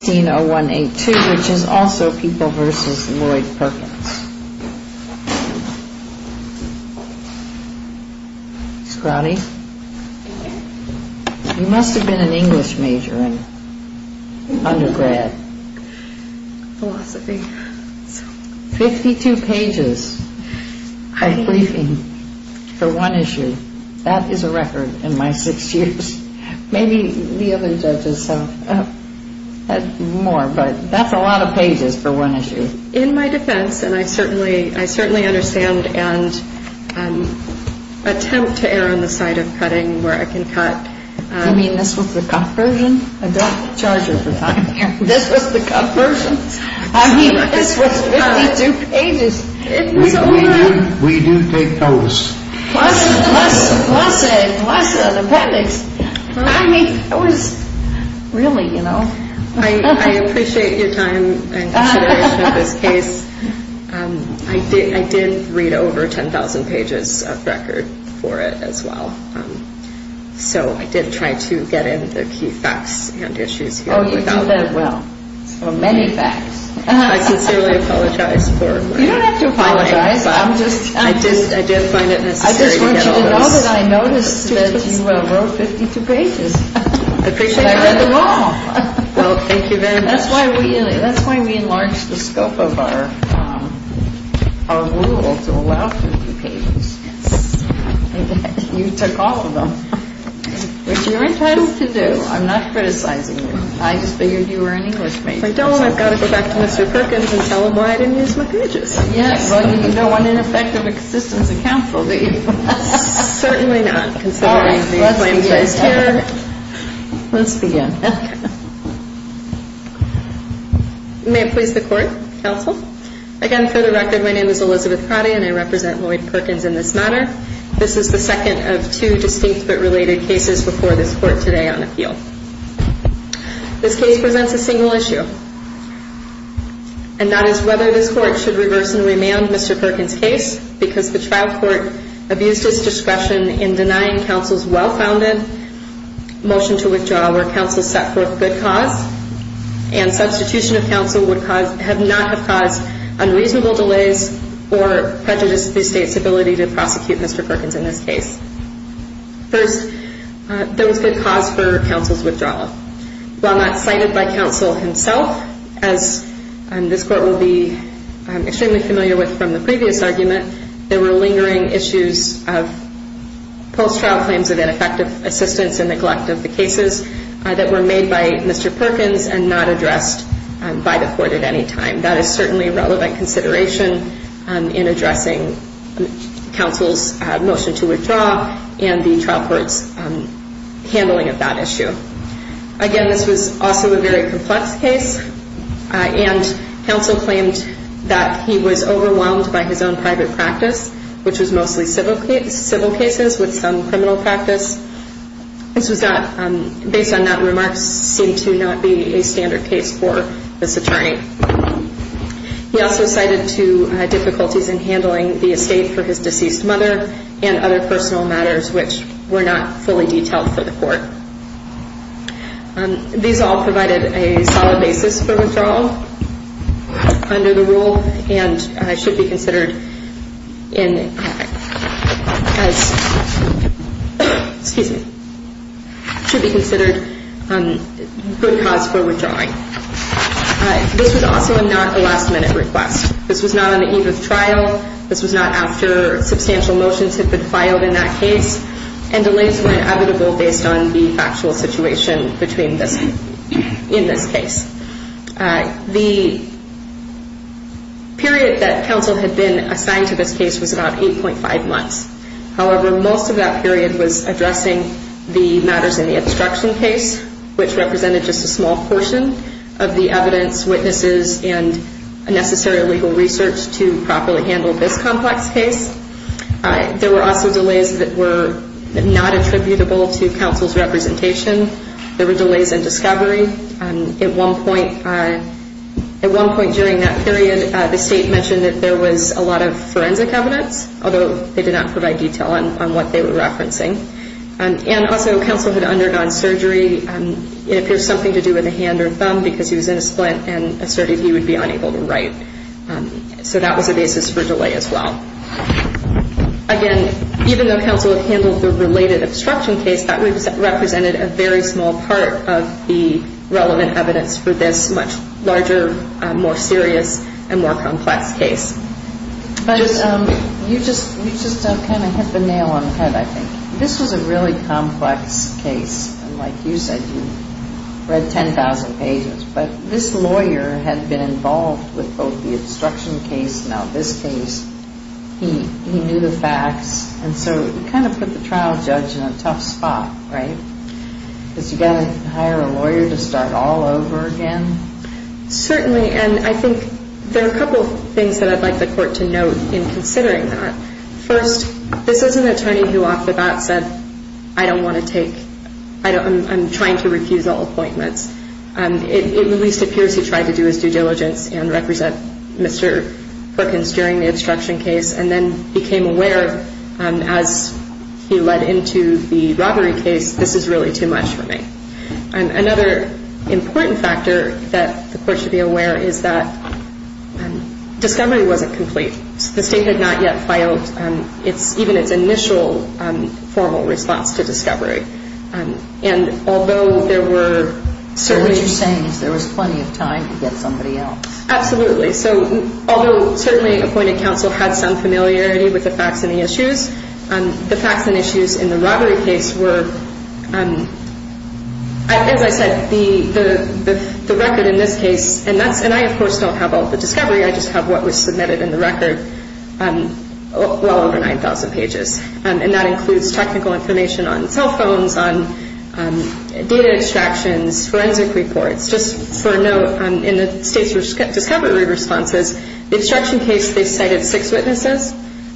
You must have been an English major in undergrad. 52 pages of briefing for one issue. That is a record in my six years. Maybe the other judges have more, but that's a lot of pages for one issue. In my defense, and I certainly understand and attempt to err on the side of cutting where I can cut. You mean this was the cut version? I don't charge you for time here. This was the cut version. I mean, this was 52 pages. We do take notice. I appreciate your time and consideration of this case. I did read over 10,000 pages of record for it as well. So I did try to get in the key facts and issues here. Oh, you did that well. Many facts. I sincerely apologize. You don't have to apologize. I just want you to know that I noticed that you wrote 52 pages. I appreciate that. And I read them all. Well, thank you very much. That's why we enlarged the scope of our rule to allow 52 pages. You took all of them, which you're entitled to do. I'm not criticizing you. I just figured you were an English major. If I don't, I've got to go back to Mr. Perkins and tell him why I didn't use my pages. Well, you can go on in effect of existence of counsel, can't you? Certainly not. Let's begin. May it please the court, counsel. Again, for the record, my name is Elizabeth Pratt, and I represent Lloyd Perkins in this matter. This is the second of two distinct but related cases before this court today on appeal. This case presents a single issue, and that is whether this court should reverse and remand Mr. Perkins' case because the trial court abused its discretion in denying counsel's well-founded motion to withdraw where counsel set forth good cause and substitution of counsel would have not have caused unreasonable delays or prejudice to the state's ability to prosecute Mr. Perkins in this case. First, there was good cause for counsel's withdrawal. While not cited by counsel himself, as this court will be extremely familiar with from the previous argument, there were lingering issues of post-trial claims of ineffective assistance and neglect of the cases that were made by Mr. Perkins and not addressed by the court at any time. That is certainly a relevant consideration in addressing counsel's motion to withdraw and the trial court's handling of that issue. Again, this was also a very complex case, and counsel claimed that he was overwhelmed by his own private practice, which was mostly civil cases with some criminal practice. Based on that, remarks seem to not be a standard case for this attorney. He also cited two difficulties in handling the estate for his deceased mother and other personal matters, which were not fully detailed for the court. These all provided a solid basis for withdrawal under the rule and should be considered in good cause for withdrawing. This was also not a last-minute request. This was not on the eve of trial. This was not after substantial motions had been filed in that case, and delays were inevitable based on the factual situation in this case. The period that counsel had been assigned to this case was about 8.5 months. However, most of that period was addressing the matters in the obstruction case, which represented just a small portion of the evidence, witnesses, and necessary legal research to properly handle this complex case. There were also delays that were not attributable to counsel's representation. There were also delays that were not attributable to counsel's representation. At one point during that period, the state mentioned that there was a lot of forensic evidence, although they did not provide detail on what they were referencing. And also, counsel had undergone surgery. It appears something to do with a hand or thumb because he was in a splint and asserted he would be able to handle this much larger, more serious, and more complex case. But you just kind of hit the nail on the head, I think. This was a really complex case. And like you said, you read 10,000 pages. But this lawyer had been involved with both the obstruction case and now this case. He knew the facts. And so it kind of put the trial judge in a tough spot, right? Because you've got to hire a lawyer to start all over again? Certainly. And I think there are a couple of things that I'd like the Court to note in considering that. First, this is an attorney who off the bat said, I don't want to take – I'm trying to refuse all appointments. It at least appears he tried to do his due diligence and represent Mr. Americans during the obstruction case and then became aware as he led into the robbery case, this is really too much for me. Another important factor that the Court should be aware of is that discovery wasn't complete. The State had not yet filed even its initial formal response to discovery. And although there were – So what you're saying is there was plenty of time to get somebody else? Absolutely. So although certainly appointed counsel had some familiarity with the facts and the issues, the facts and issues in the robbery case were – as I said, the record in this case – and I, of course, don't have all the discovery. I just have what was submitted in the record, well over 9,000 pages. And that includes technical information on cell phones, on data extractions, forensic reports. Just for a note, in the State's discovery responses, the obstruction case, they cited six witnesses.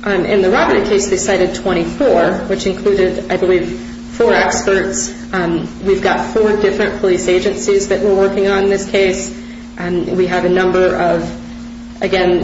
In the robbery case, they cited 24, which included, I believe, four experts. We've got four different police agencies that we're working on in this case. We have a number of – again,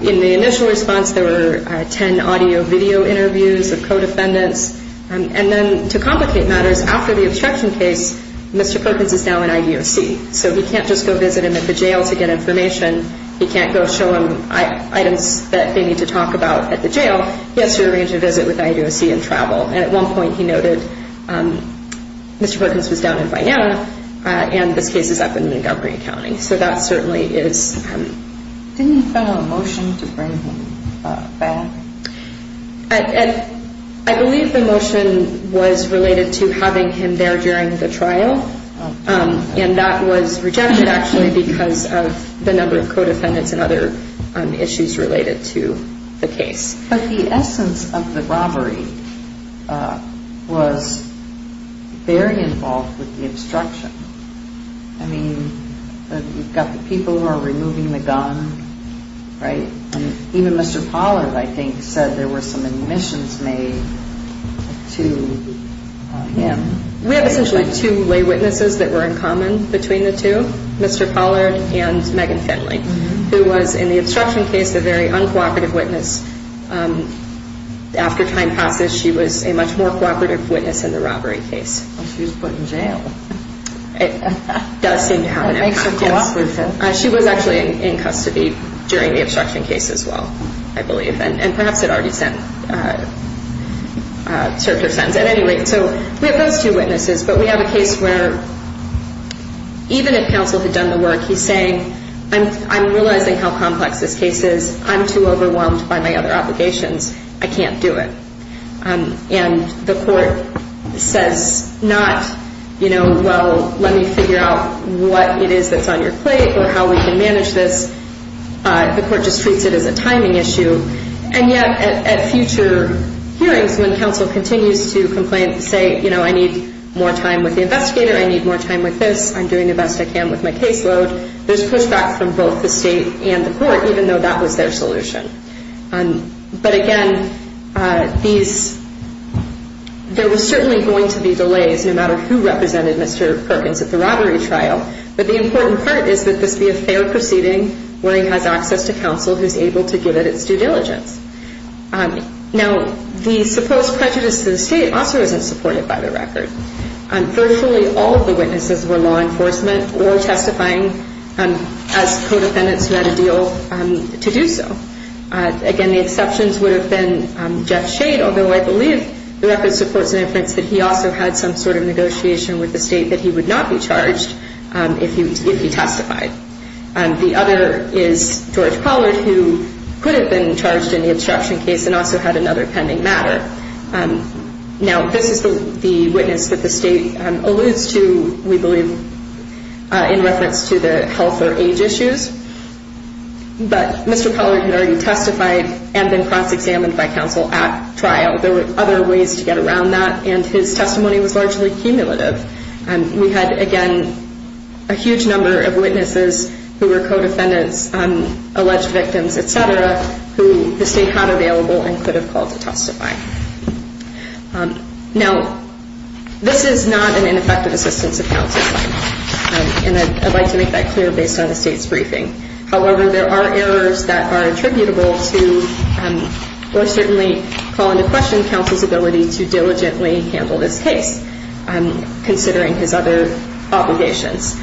in the initial response, there were 10 audio-video interviews of co-defendants. And then to complicate matters, after the obstruction case, Mr. Perkins is now in IDOC. So he can't just go visit him at the jail to get information. He can't go show him items that they need to talk about at the jail. He has to arrange a visit with IDOC and travel. And at one point, he noted Mr. Perkins was down in Vianna, and this case is up in Montgomery County. So that certainly is – Didn't he file a motion to bring him back? I believe the motion was related to having him there during the trial. And that was rejected, actually, because of the number of co-defendants and other issues related to the case. But the essence of the robbery was very involved with the obstruction. I mean, you've got the people who are involved with the case, and they said there were some admissions made to him. We have essentially two lay witnesses that were in common between the two, Mr. Pollard and Megan Finley, who was in the obstruction case a very uncooperative witness. After time passes, she was a much more cooperative witness in the robbery case. Well, she was put in jail. She was actually in custody during the obstruction case as well, I believe. And perhaps it already served her sense. At any rate, so we have those two witnesses, but we have a case where even if counsel had done the work, he's saying, I'm realizing how complex this case is. I'm too overwhelmed by my other obligations. I can't do it. And the court says not, you know, well, let me figure out what it is that's on your plate or how we can manage this. The court just treats it as a timing issue. And yet at future hearings, when counsel continues to complain, say, you know, I need more time with the investigator. I need more time with this. I'm doing the best I can with my caseload. There's pushback from both the state and the court, even though that was their solution. But again, these, there was certainly going to be delays no matter who represented Mr. Perkins at the robbery trial. But the important part is that this be a fair proceeding where he has access to counsel who's able to give it its due diligence. Now, the supposed prejudice to the state also isn't supported by the record. Virtually all of the witnesses were law enforcement or testifying as co-defendants who had a deal to do so. Again, the exceptions would have been Jeff Shade, although I believe the record supports an inference that he also had some sort of negotiation with the state that he would not be charged if he testified. The other is George Pollard, who could have been charged in the obstruction case and also had another pending matter. Now, this is the witness that the state alludes to, we believe, in reference to the health or age issues. But Mr. Pollard had already testified and been cross-examined by counsel at trial. There were other ways to get around that, and his testimony was largely cumulative. We had, again, a huge number of witnesses who were co-defendants, alleged victims, et cetera, who the state had available and could have called to testify. Now, this is not an ineffective assistance of counsel, and I'd like to make that clear based on the state's briefing. However, there are errors that are attributable to, or certainly call into question, counsel's ability to diligently handle this case, considering his other obligations.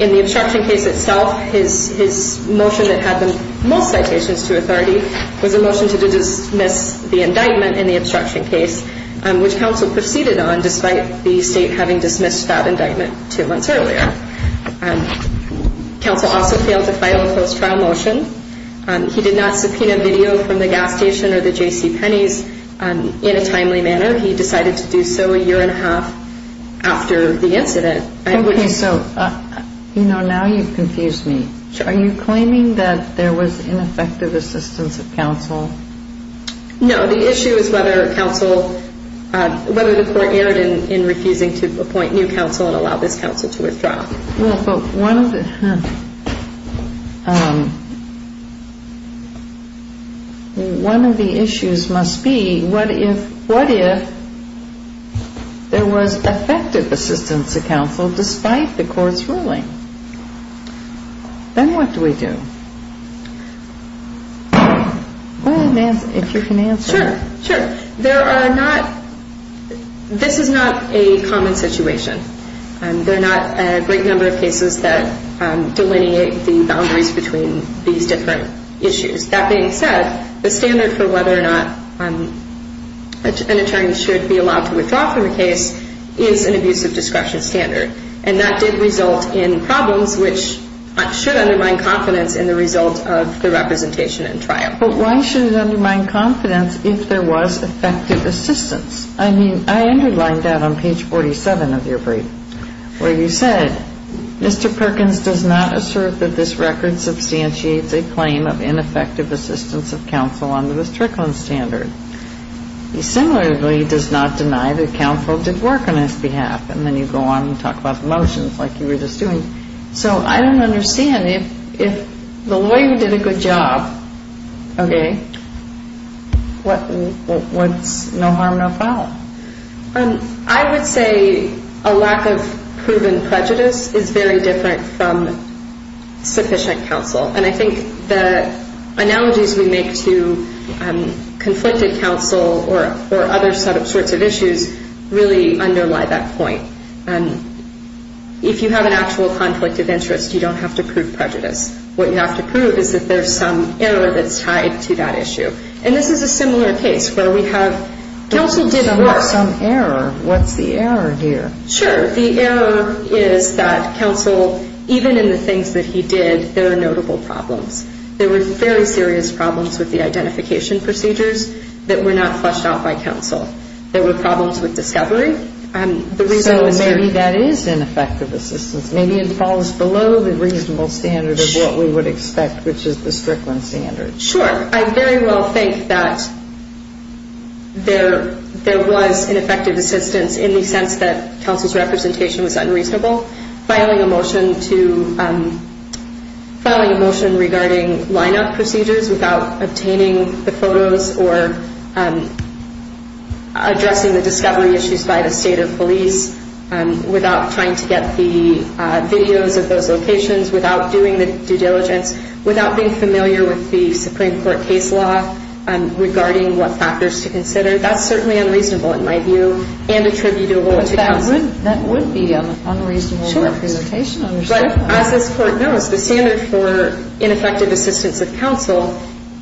In the obstruction case itself, his motion that had the most citations to authority was a motion to dismiss the obstruction case, which counsel proceeded on, despite the state having dismissed that indictment two months earlier. Counsel also failed to file a closed trial motion. He did not subpoena video from the gas station or the J.C. Penney's in a timely manner. He decided to do so a year and a half after the incident. So, you know, now you've confused me. Are you claiming that there was ineffective assistance of counsel? No. The issue is whether counsel, whether the court erred in refusing to appoint new counsel and allow this counsel to withdraw. Well, but one of the, one of the issues must be, what if, what if there was effective assistance of counsel, but not effective counsel, despite the court's ruling? Then what do we do? Go ahead, Nancy, if you can answer. Sure. Sure. There are not, this is not a common situation. There are not a great number of cases that delineate the boundaries between these different issues. That being said, the standard for whether or not an attorney should be allowed to withdraw from a case is an abusive discretion standard, and that did result in problems which should undermine confidence in the result of the representation and trial. But why should it undermine confidence if there was effective assistance? I mean, I underlined that on page 47 of your brief, where you said, Mr. Perkins does not assert that this record substantiates a claim of ineffective assistance of counsel under the Strickland standard. He similarly does not deny that counsel did work on his behalf. And then you go on and talk about the motions like you were just doing. So I don't understand. If, if the lawyer did a good job, okay, what, what's no harm, no foul? I would say a lack of proven prejudice is very different from sufficient counsel. And I think the analogies we make to conflicted counsel or other sorts of issues really underlie that point. And if you have an actual conflict of interest, you don't have to prove prejudice. What you have to prove is that there's some error that's tied to that issue. And this is a similar case where we have counsel did work. But there's some error. What's the error here? Sure. The error is that counsel, even in the things that he did, there are notable problems. There were very serious problems with the counsel. There were problems with discovery. So maybe that is ineffective assistance. Maybe it falls below the reasonable standard of what we would expect, which is the Strickland standard. Sure. I very well think that there, there was ineffective assistance in the sense that counsel's representation was unreasonable. Filing a motion to, filing a motion regarding line-up procedures without obtaining the photos or the addressing the discovery issues by the state of police, without trying to get the videos of those locations, without doing the due diligence, without being familiar with the Supreme Court case law regarding what factors to consider, that's certainly unreasonable in my view and attributable to counsel. But that would, that would be unreasonable representation. Sure. But as this Court knows, the standard for ineffective assistance of counsel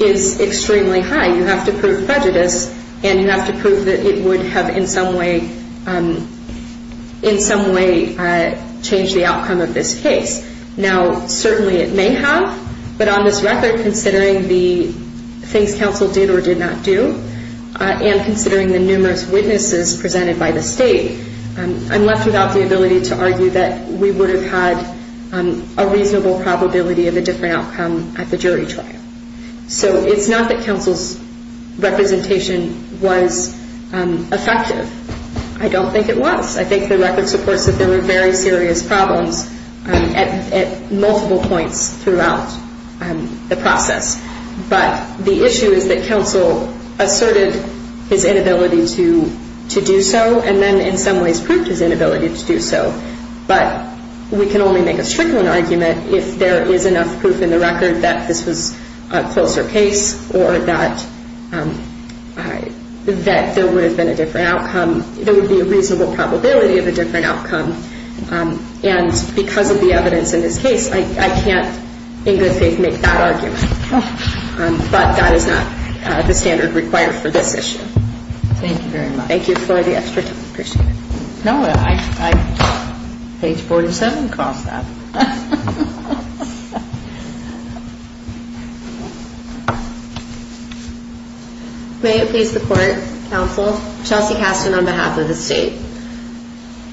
is extremely high. You have to prove prejudice and you have to prove that it would have in some way, in some way changed the outcome of this case. Now, certainly it may have, but on this record, considering the things counsel did or did not do, and considering the numerous witnesses presented by the state, I'm left without the ability to argue that we would have had a reasonable probability of a different outcome at the jury trial. So it's not that counsel's representation was effective. I don't think it was. I think the record supports that there were very serious problems at, at multiple points throughout the process. But the issue is that counsel asserted his inability to, to do so and then in some ways proved his inability to do so. But we can only make a strickling argument if there is enough proof in the record that this was, this was a reasonable probability of a different outcome. And because of the evidence in this case, I, I can't in good faith make that argument. But that is not the standard required for this issue. Thank you very much. Thank you for the extra time. Appreciate it. No, I, I, page 47 calls that. May it please the court, counsel, Chelsea Casten on behalf of the state.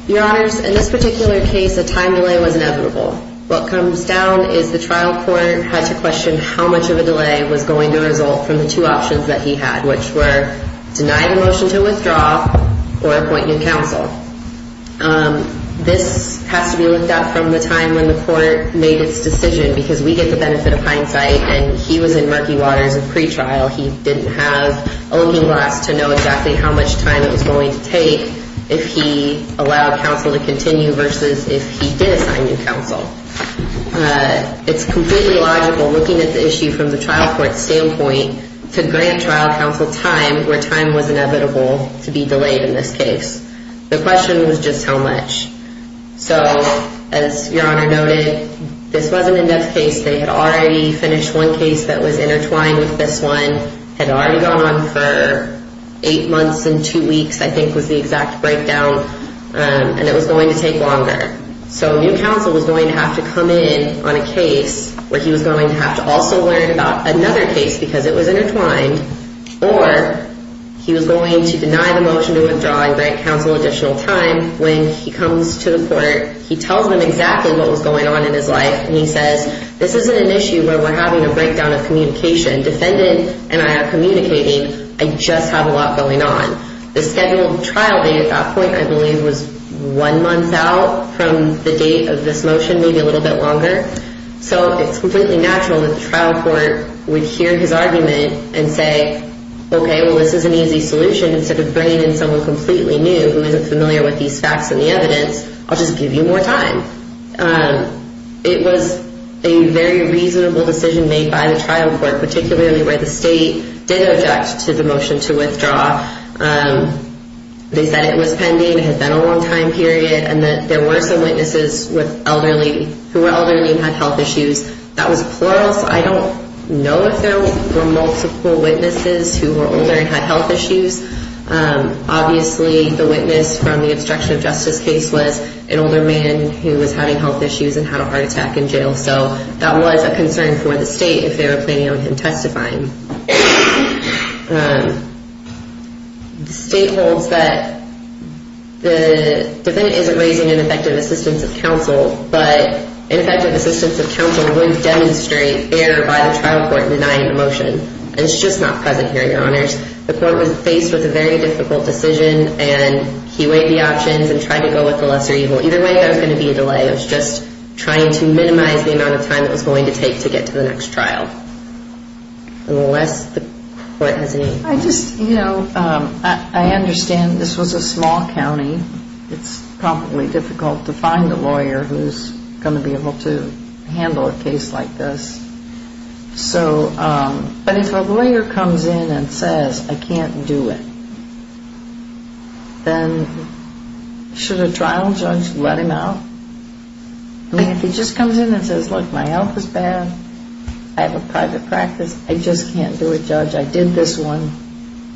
Your honors, in this particular case, a time delay was inevitable. What comes down is the trial court had to question how much of a delay was going to result from the two options that he had, which were denying a motion to withdraw or appointing a counsel. This has to be looked at from the time when the court made its decision because we get the benefit of hindsight and he was able to make the decision. He was in murky waters of pretrial. He didn't have a looking glass to know exactly how much time it was going to take if he allowed counsel to continue versus if he did assign new counsel. It's completely logical looking at the issue from the trial court standpoint to grant trial counsel time where time was inevitable to be delayed in this case. The question was just how much. So as your honor noted, this wasn't a next case. They had already finished one case that was intertwined with this one had already gone on for eight months and two weeks. I think was the exact breakdown and it was going to take longer. So new counsel was going to have to come in on a case where he was going to have to also learn about another case because it was intertwined. Or he was going to deny the motion to withdraw and grant counsel additional time. When he comes to the court, he tells them exactly what was going on in his life and he says, this isn't an issue where we're having a breakdown of communication. Defendant and I are communicating. I just have a lot going on. The scheduled trial date at that point, I believe, was one month out from the date of this motion, maybe a little bit longer. So it's completely natural that the trial court would hear his argument and say, okay, well, this is an easy solution instead of bringing in someone completely new who isn't familiar with these facts and the evidence. I'll just give you more time. It was a very reasonable decision made by the trial court, particularly where the state did object to the motion to withdraw. They said it was pending, it had been a long time period, and that there were some witnesses who were elderly and had health issues. That was plural. I don't know if there were multiple witnesses who were older and had health issues. Obviously, the witness from the obstruction of justice case was an older man who was having health issues and had a heart attack in jail. So that was a concern for the state if they were planning on him testifying. The state holds that the defendant isn't raising ineffective assistance of counsel, but ineffective assistance of counsel would demonstrate error by the trial court denying the motion. It's just not present here, Your Honors. The court was faced with a very difficult decision, and he weighed the options and tried to go with the lesser evil. Either way, there was going to be a delay. It was just trying to minimize the amount of time it was going to take to get to the next trial. I understand this was a small county. It's probably difficult to find a lawyer who's going to be able to handle a case like this. But if a lawyer comes in and says, I can't do it, then should a trial judge let him out? I mean, if he just comes in and says, look, my health is bad, I have a private practice, I just can't do it, judge. I did this one,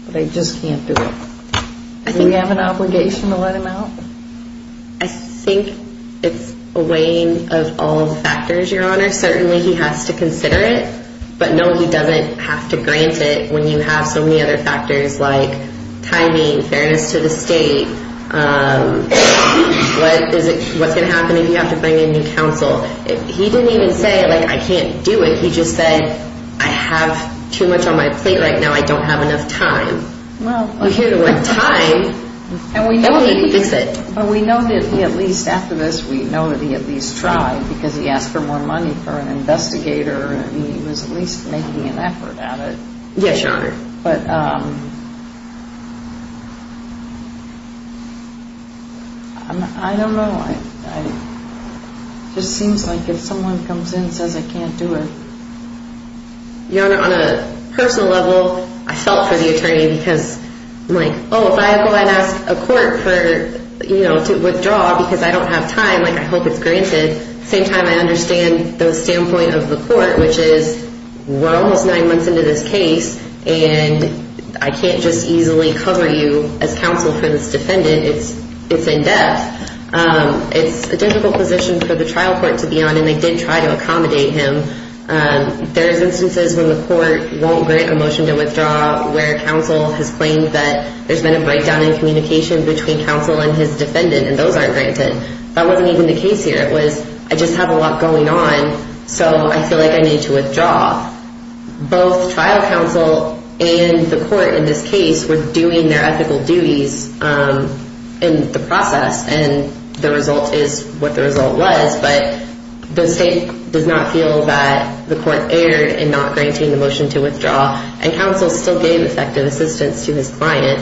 but I just can't do it. Do we have an obligation to let him out? I think it's a weighing of all factors, Your Honor. Certainly he has to consider it. But no, he doesn't have to grant it when you have so many other factors like timing, fairness to the state, what's going to happen if you have to bring in new counsel. He didn't even say, like, I can't do it. He just said, I have too much on my plate right now. I don't have enough time. Well, we know that he at least, after this, we know that he at least tried because he asked for more money for an investigator and he was at least making an effort at it. Yes, Your Honor. But I don't know. It just seems like if someone comes in and says, I can't do it. Your Honor, on a personal level, I felt for the attorney because I'm like, oh, if I go and ask a court to withdraw because I don't have time, I hope it's granted. At the same time, I understand the standpoint of the court, which is we're almost nine months into this case and I can't just easily cover you as counsel for this defendant. It's in depth. It's a difficult position for the trial court to be on. And they did try to accommodate him. There's instances when the court won't grant a motion to withdraw where counsel has claimed that there's been a breakdown in communication between counsel and his defendant and those aren't granted. That wasn't even the case here. It was, I just have a lot going on, so I feel like I need to withdraw. Both trial counsel and the court in this case were doing their ethical duties in the process, and the result is what the result was. But the state does not feel that the court erred in not granting the motion to withdraw, and counsel still gave effective assistance to his client.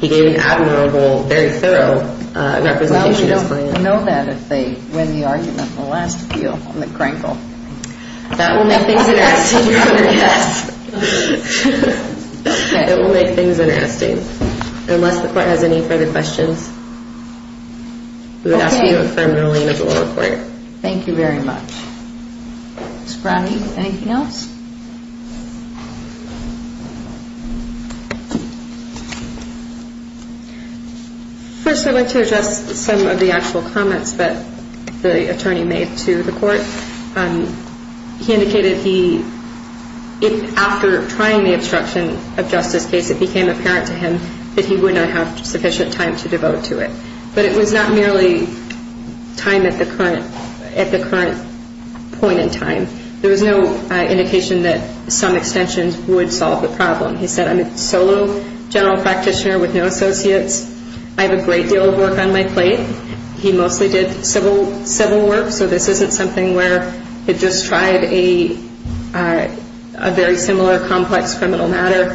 He gave an admirable, very thorough representation to his client. I don't know that if they win the argument in the last appeal on the crankle. That will make things interesting, Your Honor, yes. It will make things interesting. Unless the court has any further questions, we would ask you to affirm the ruling of the lower court. Thank you very much. Ms. Brown, anything else? First, I'd like to address some of the actual comments that the attorney made to the court. He indicated he, after trying the obstruction of justice case, it became apparent to him that he would not have sufficient time to devote to it. But it was not merely time at the current point in time. There was no indication that some extensions would solve the problem. He said, I'm a solo general practitioner with no associates. I have a great deal of work on my plate. He mostly did civil work, so this isn't something where he just tried a very similar complex criminal matter.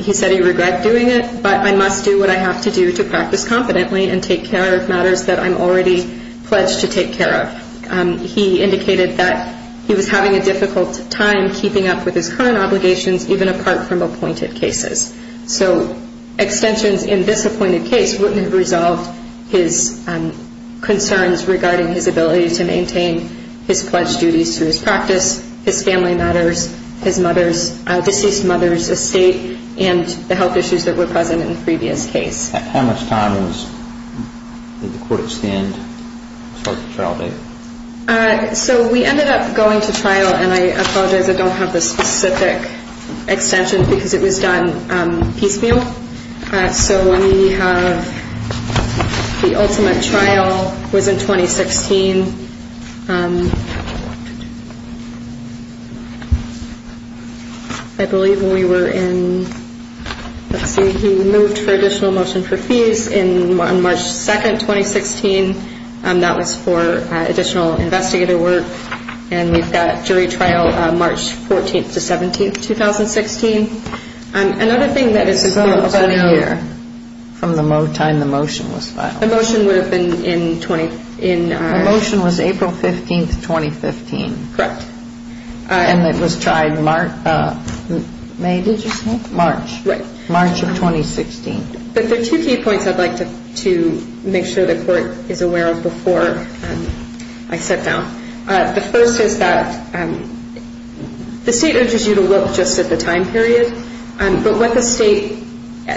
He said he regret doing it, but I must do what I have to do to practice competently and take care of matters that I'm already pledged to take care of. He indicated that he was having a difficult time keeping up with his current obligations, even apart from appointed cases. So extensions in this appointed case wouldn't have resolved his concerns regarding his ability to maintain his pledged duties to his practice, his family matters, his mother's, deceased mother's estate, and the health issues that were present in the previous case. How much time did the court extend the trial date? So we ended up going to trial, and I apologize I don't have the specific extension because it was done piecemeal. So we have the ultimate trial was in 2016. I believe when we were in, let's see, he moved for additional motion for fees on March 2nd, 2016. That was for additional investigator work, and we've got jury trial March 14th to 17th, 2016. Another thing that is a clue about a year. So from the time the motion was filed? The motion would have been in 2016. The motion was April 15th, 2015. Correct. And it was tried May, did you say? March. Right. March of 2016. But there are two key points I'd like to make sure the court is aware of before I sit down. The first is that the state urges you to look just at the time period, but what the state,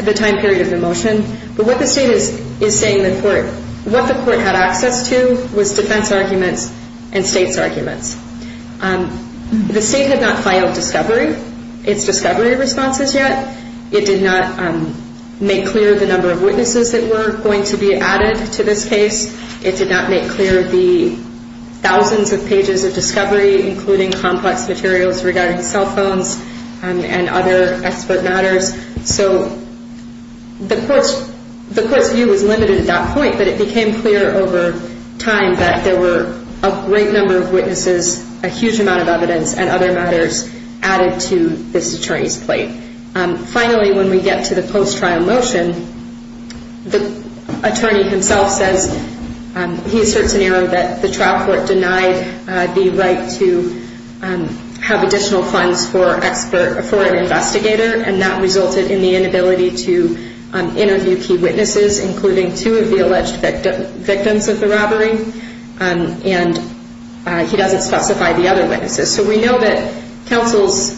the time period of the motion, but what the state is saying the court, what the court had access to was defense arguments and state's arguments. The state had not filed discovery, its discovery responses yet. It did not make clear the number of witnesses that were going to be added to this case. It did not make clear the thousands of pages of discovery, including complex materials regarding cell phones and other expert matters. So the court's view was limited at that point, but it became clear over time that there were a great number of witnesses, a huge amount of evidence, and other matters added to this attorney's plate. Finally, when we get to the post-trial motion, the attorney himself says, he asserts an error that the trial court denied the right to have additional funds for an investigator, and that resulted in the inability to interview key witnesses, including two of the alleged victims of the robbery, and he doesn't specify the other witnesses. So we know that counsel's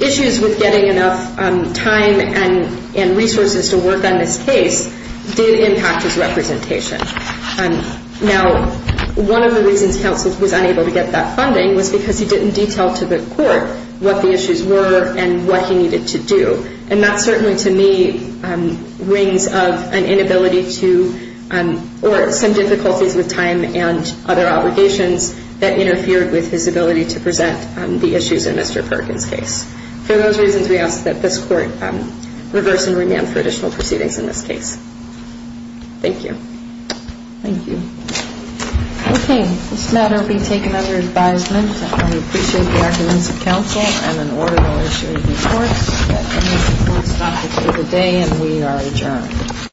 issues with getting enough time and resources to work on this case did impact his representation. Now, one of the reasons counsel was unable to get that funding was because he didn't detail to the court what the issues were and what he needed to do, and that certainly to me rings of an inability to, or some difficulties with time and other obligations that interfered with his ability to present the issues in Mr. Perkins' case. For those reasons, we ask that this court reverse and remand for additional proceedings in this case. Thank you. Thank you. Okay, this matter will be taken under advisement. I appreciate the arguments of counsel, and in order, I'll issue a report. That concludes the court's topic for the day, and we are adjourned.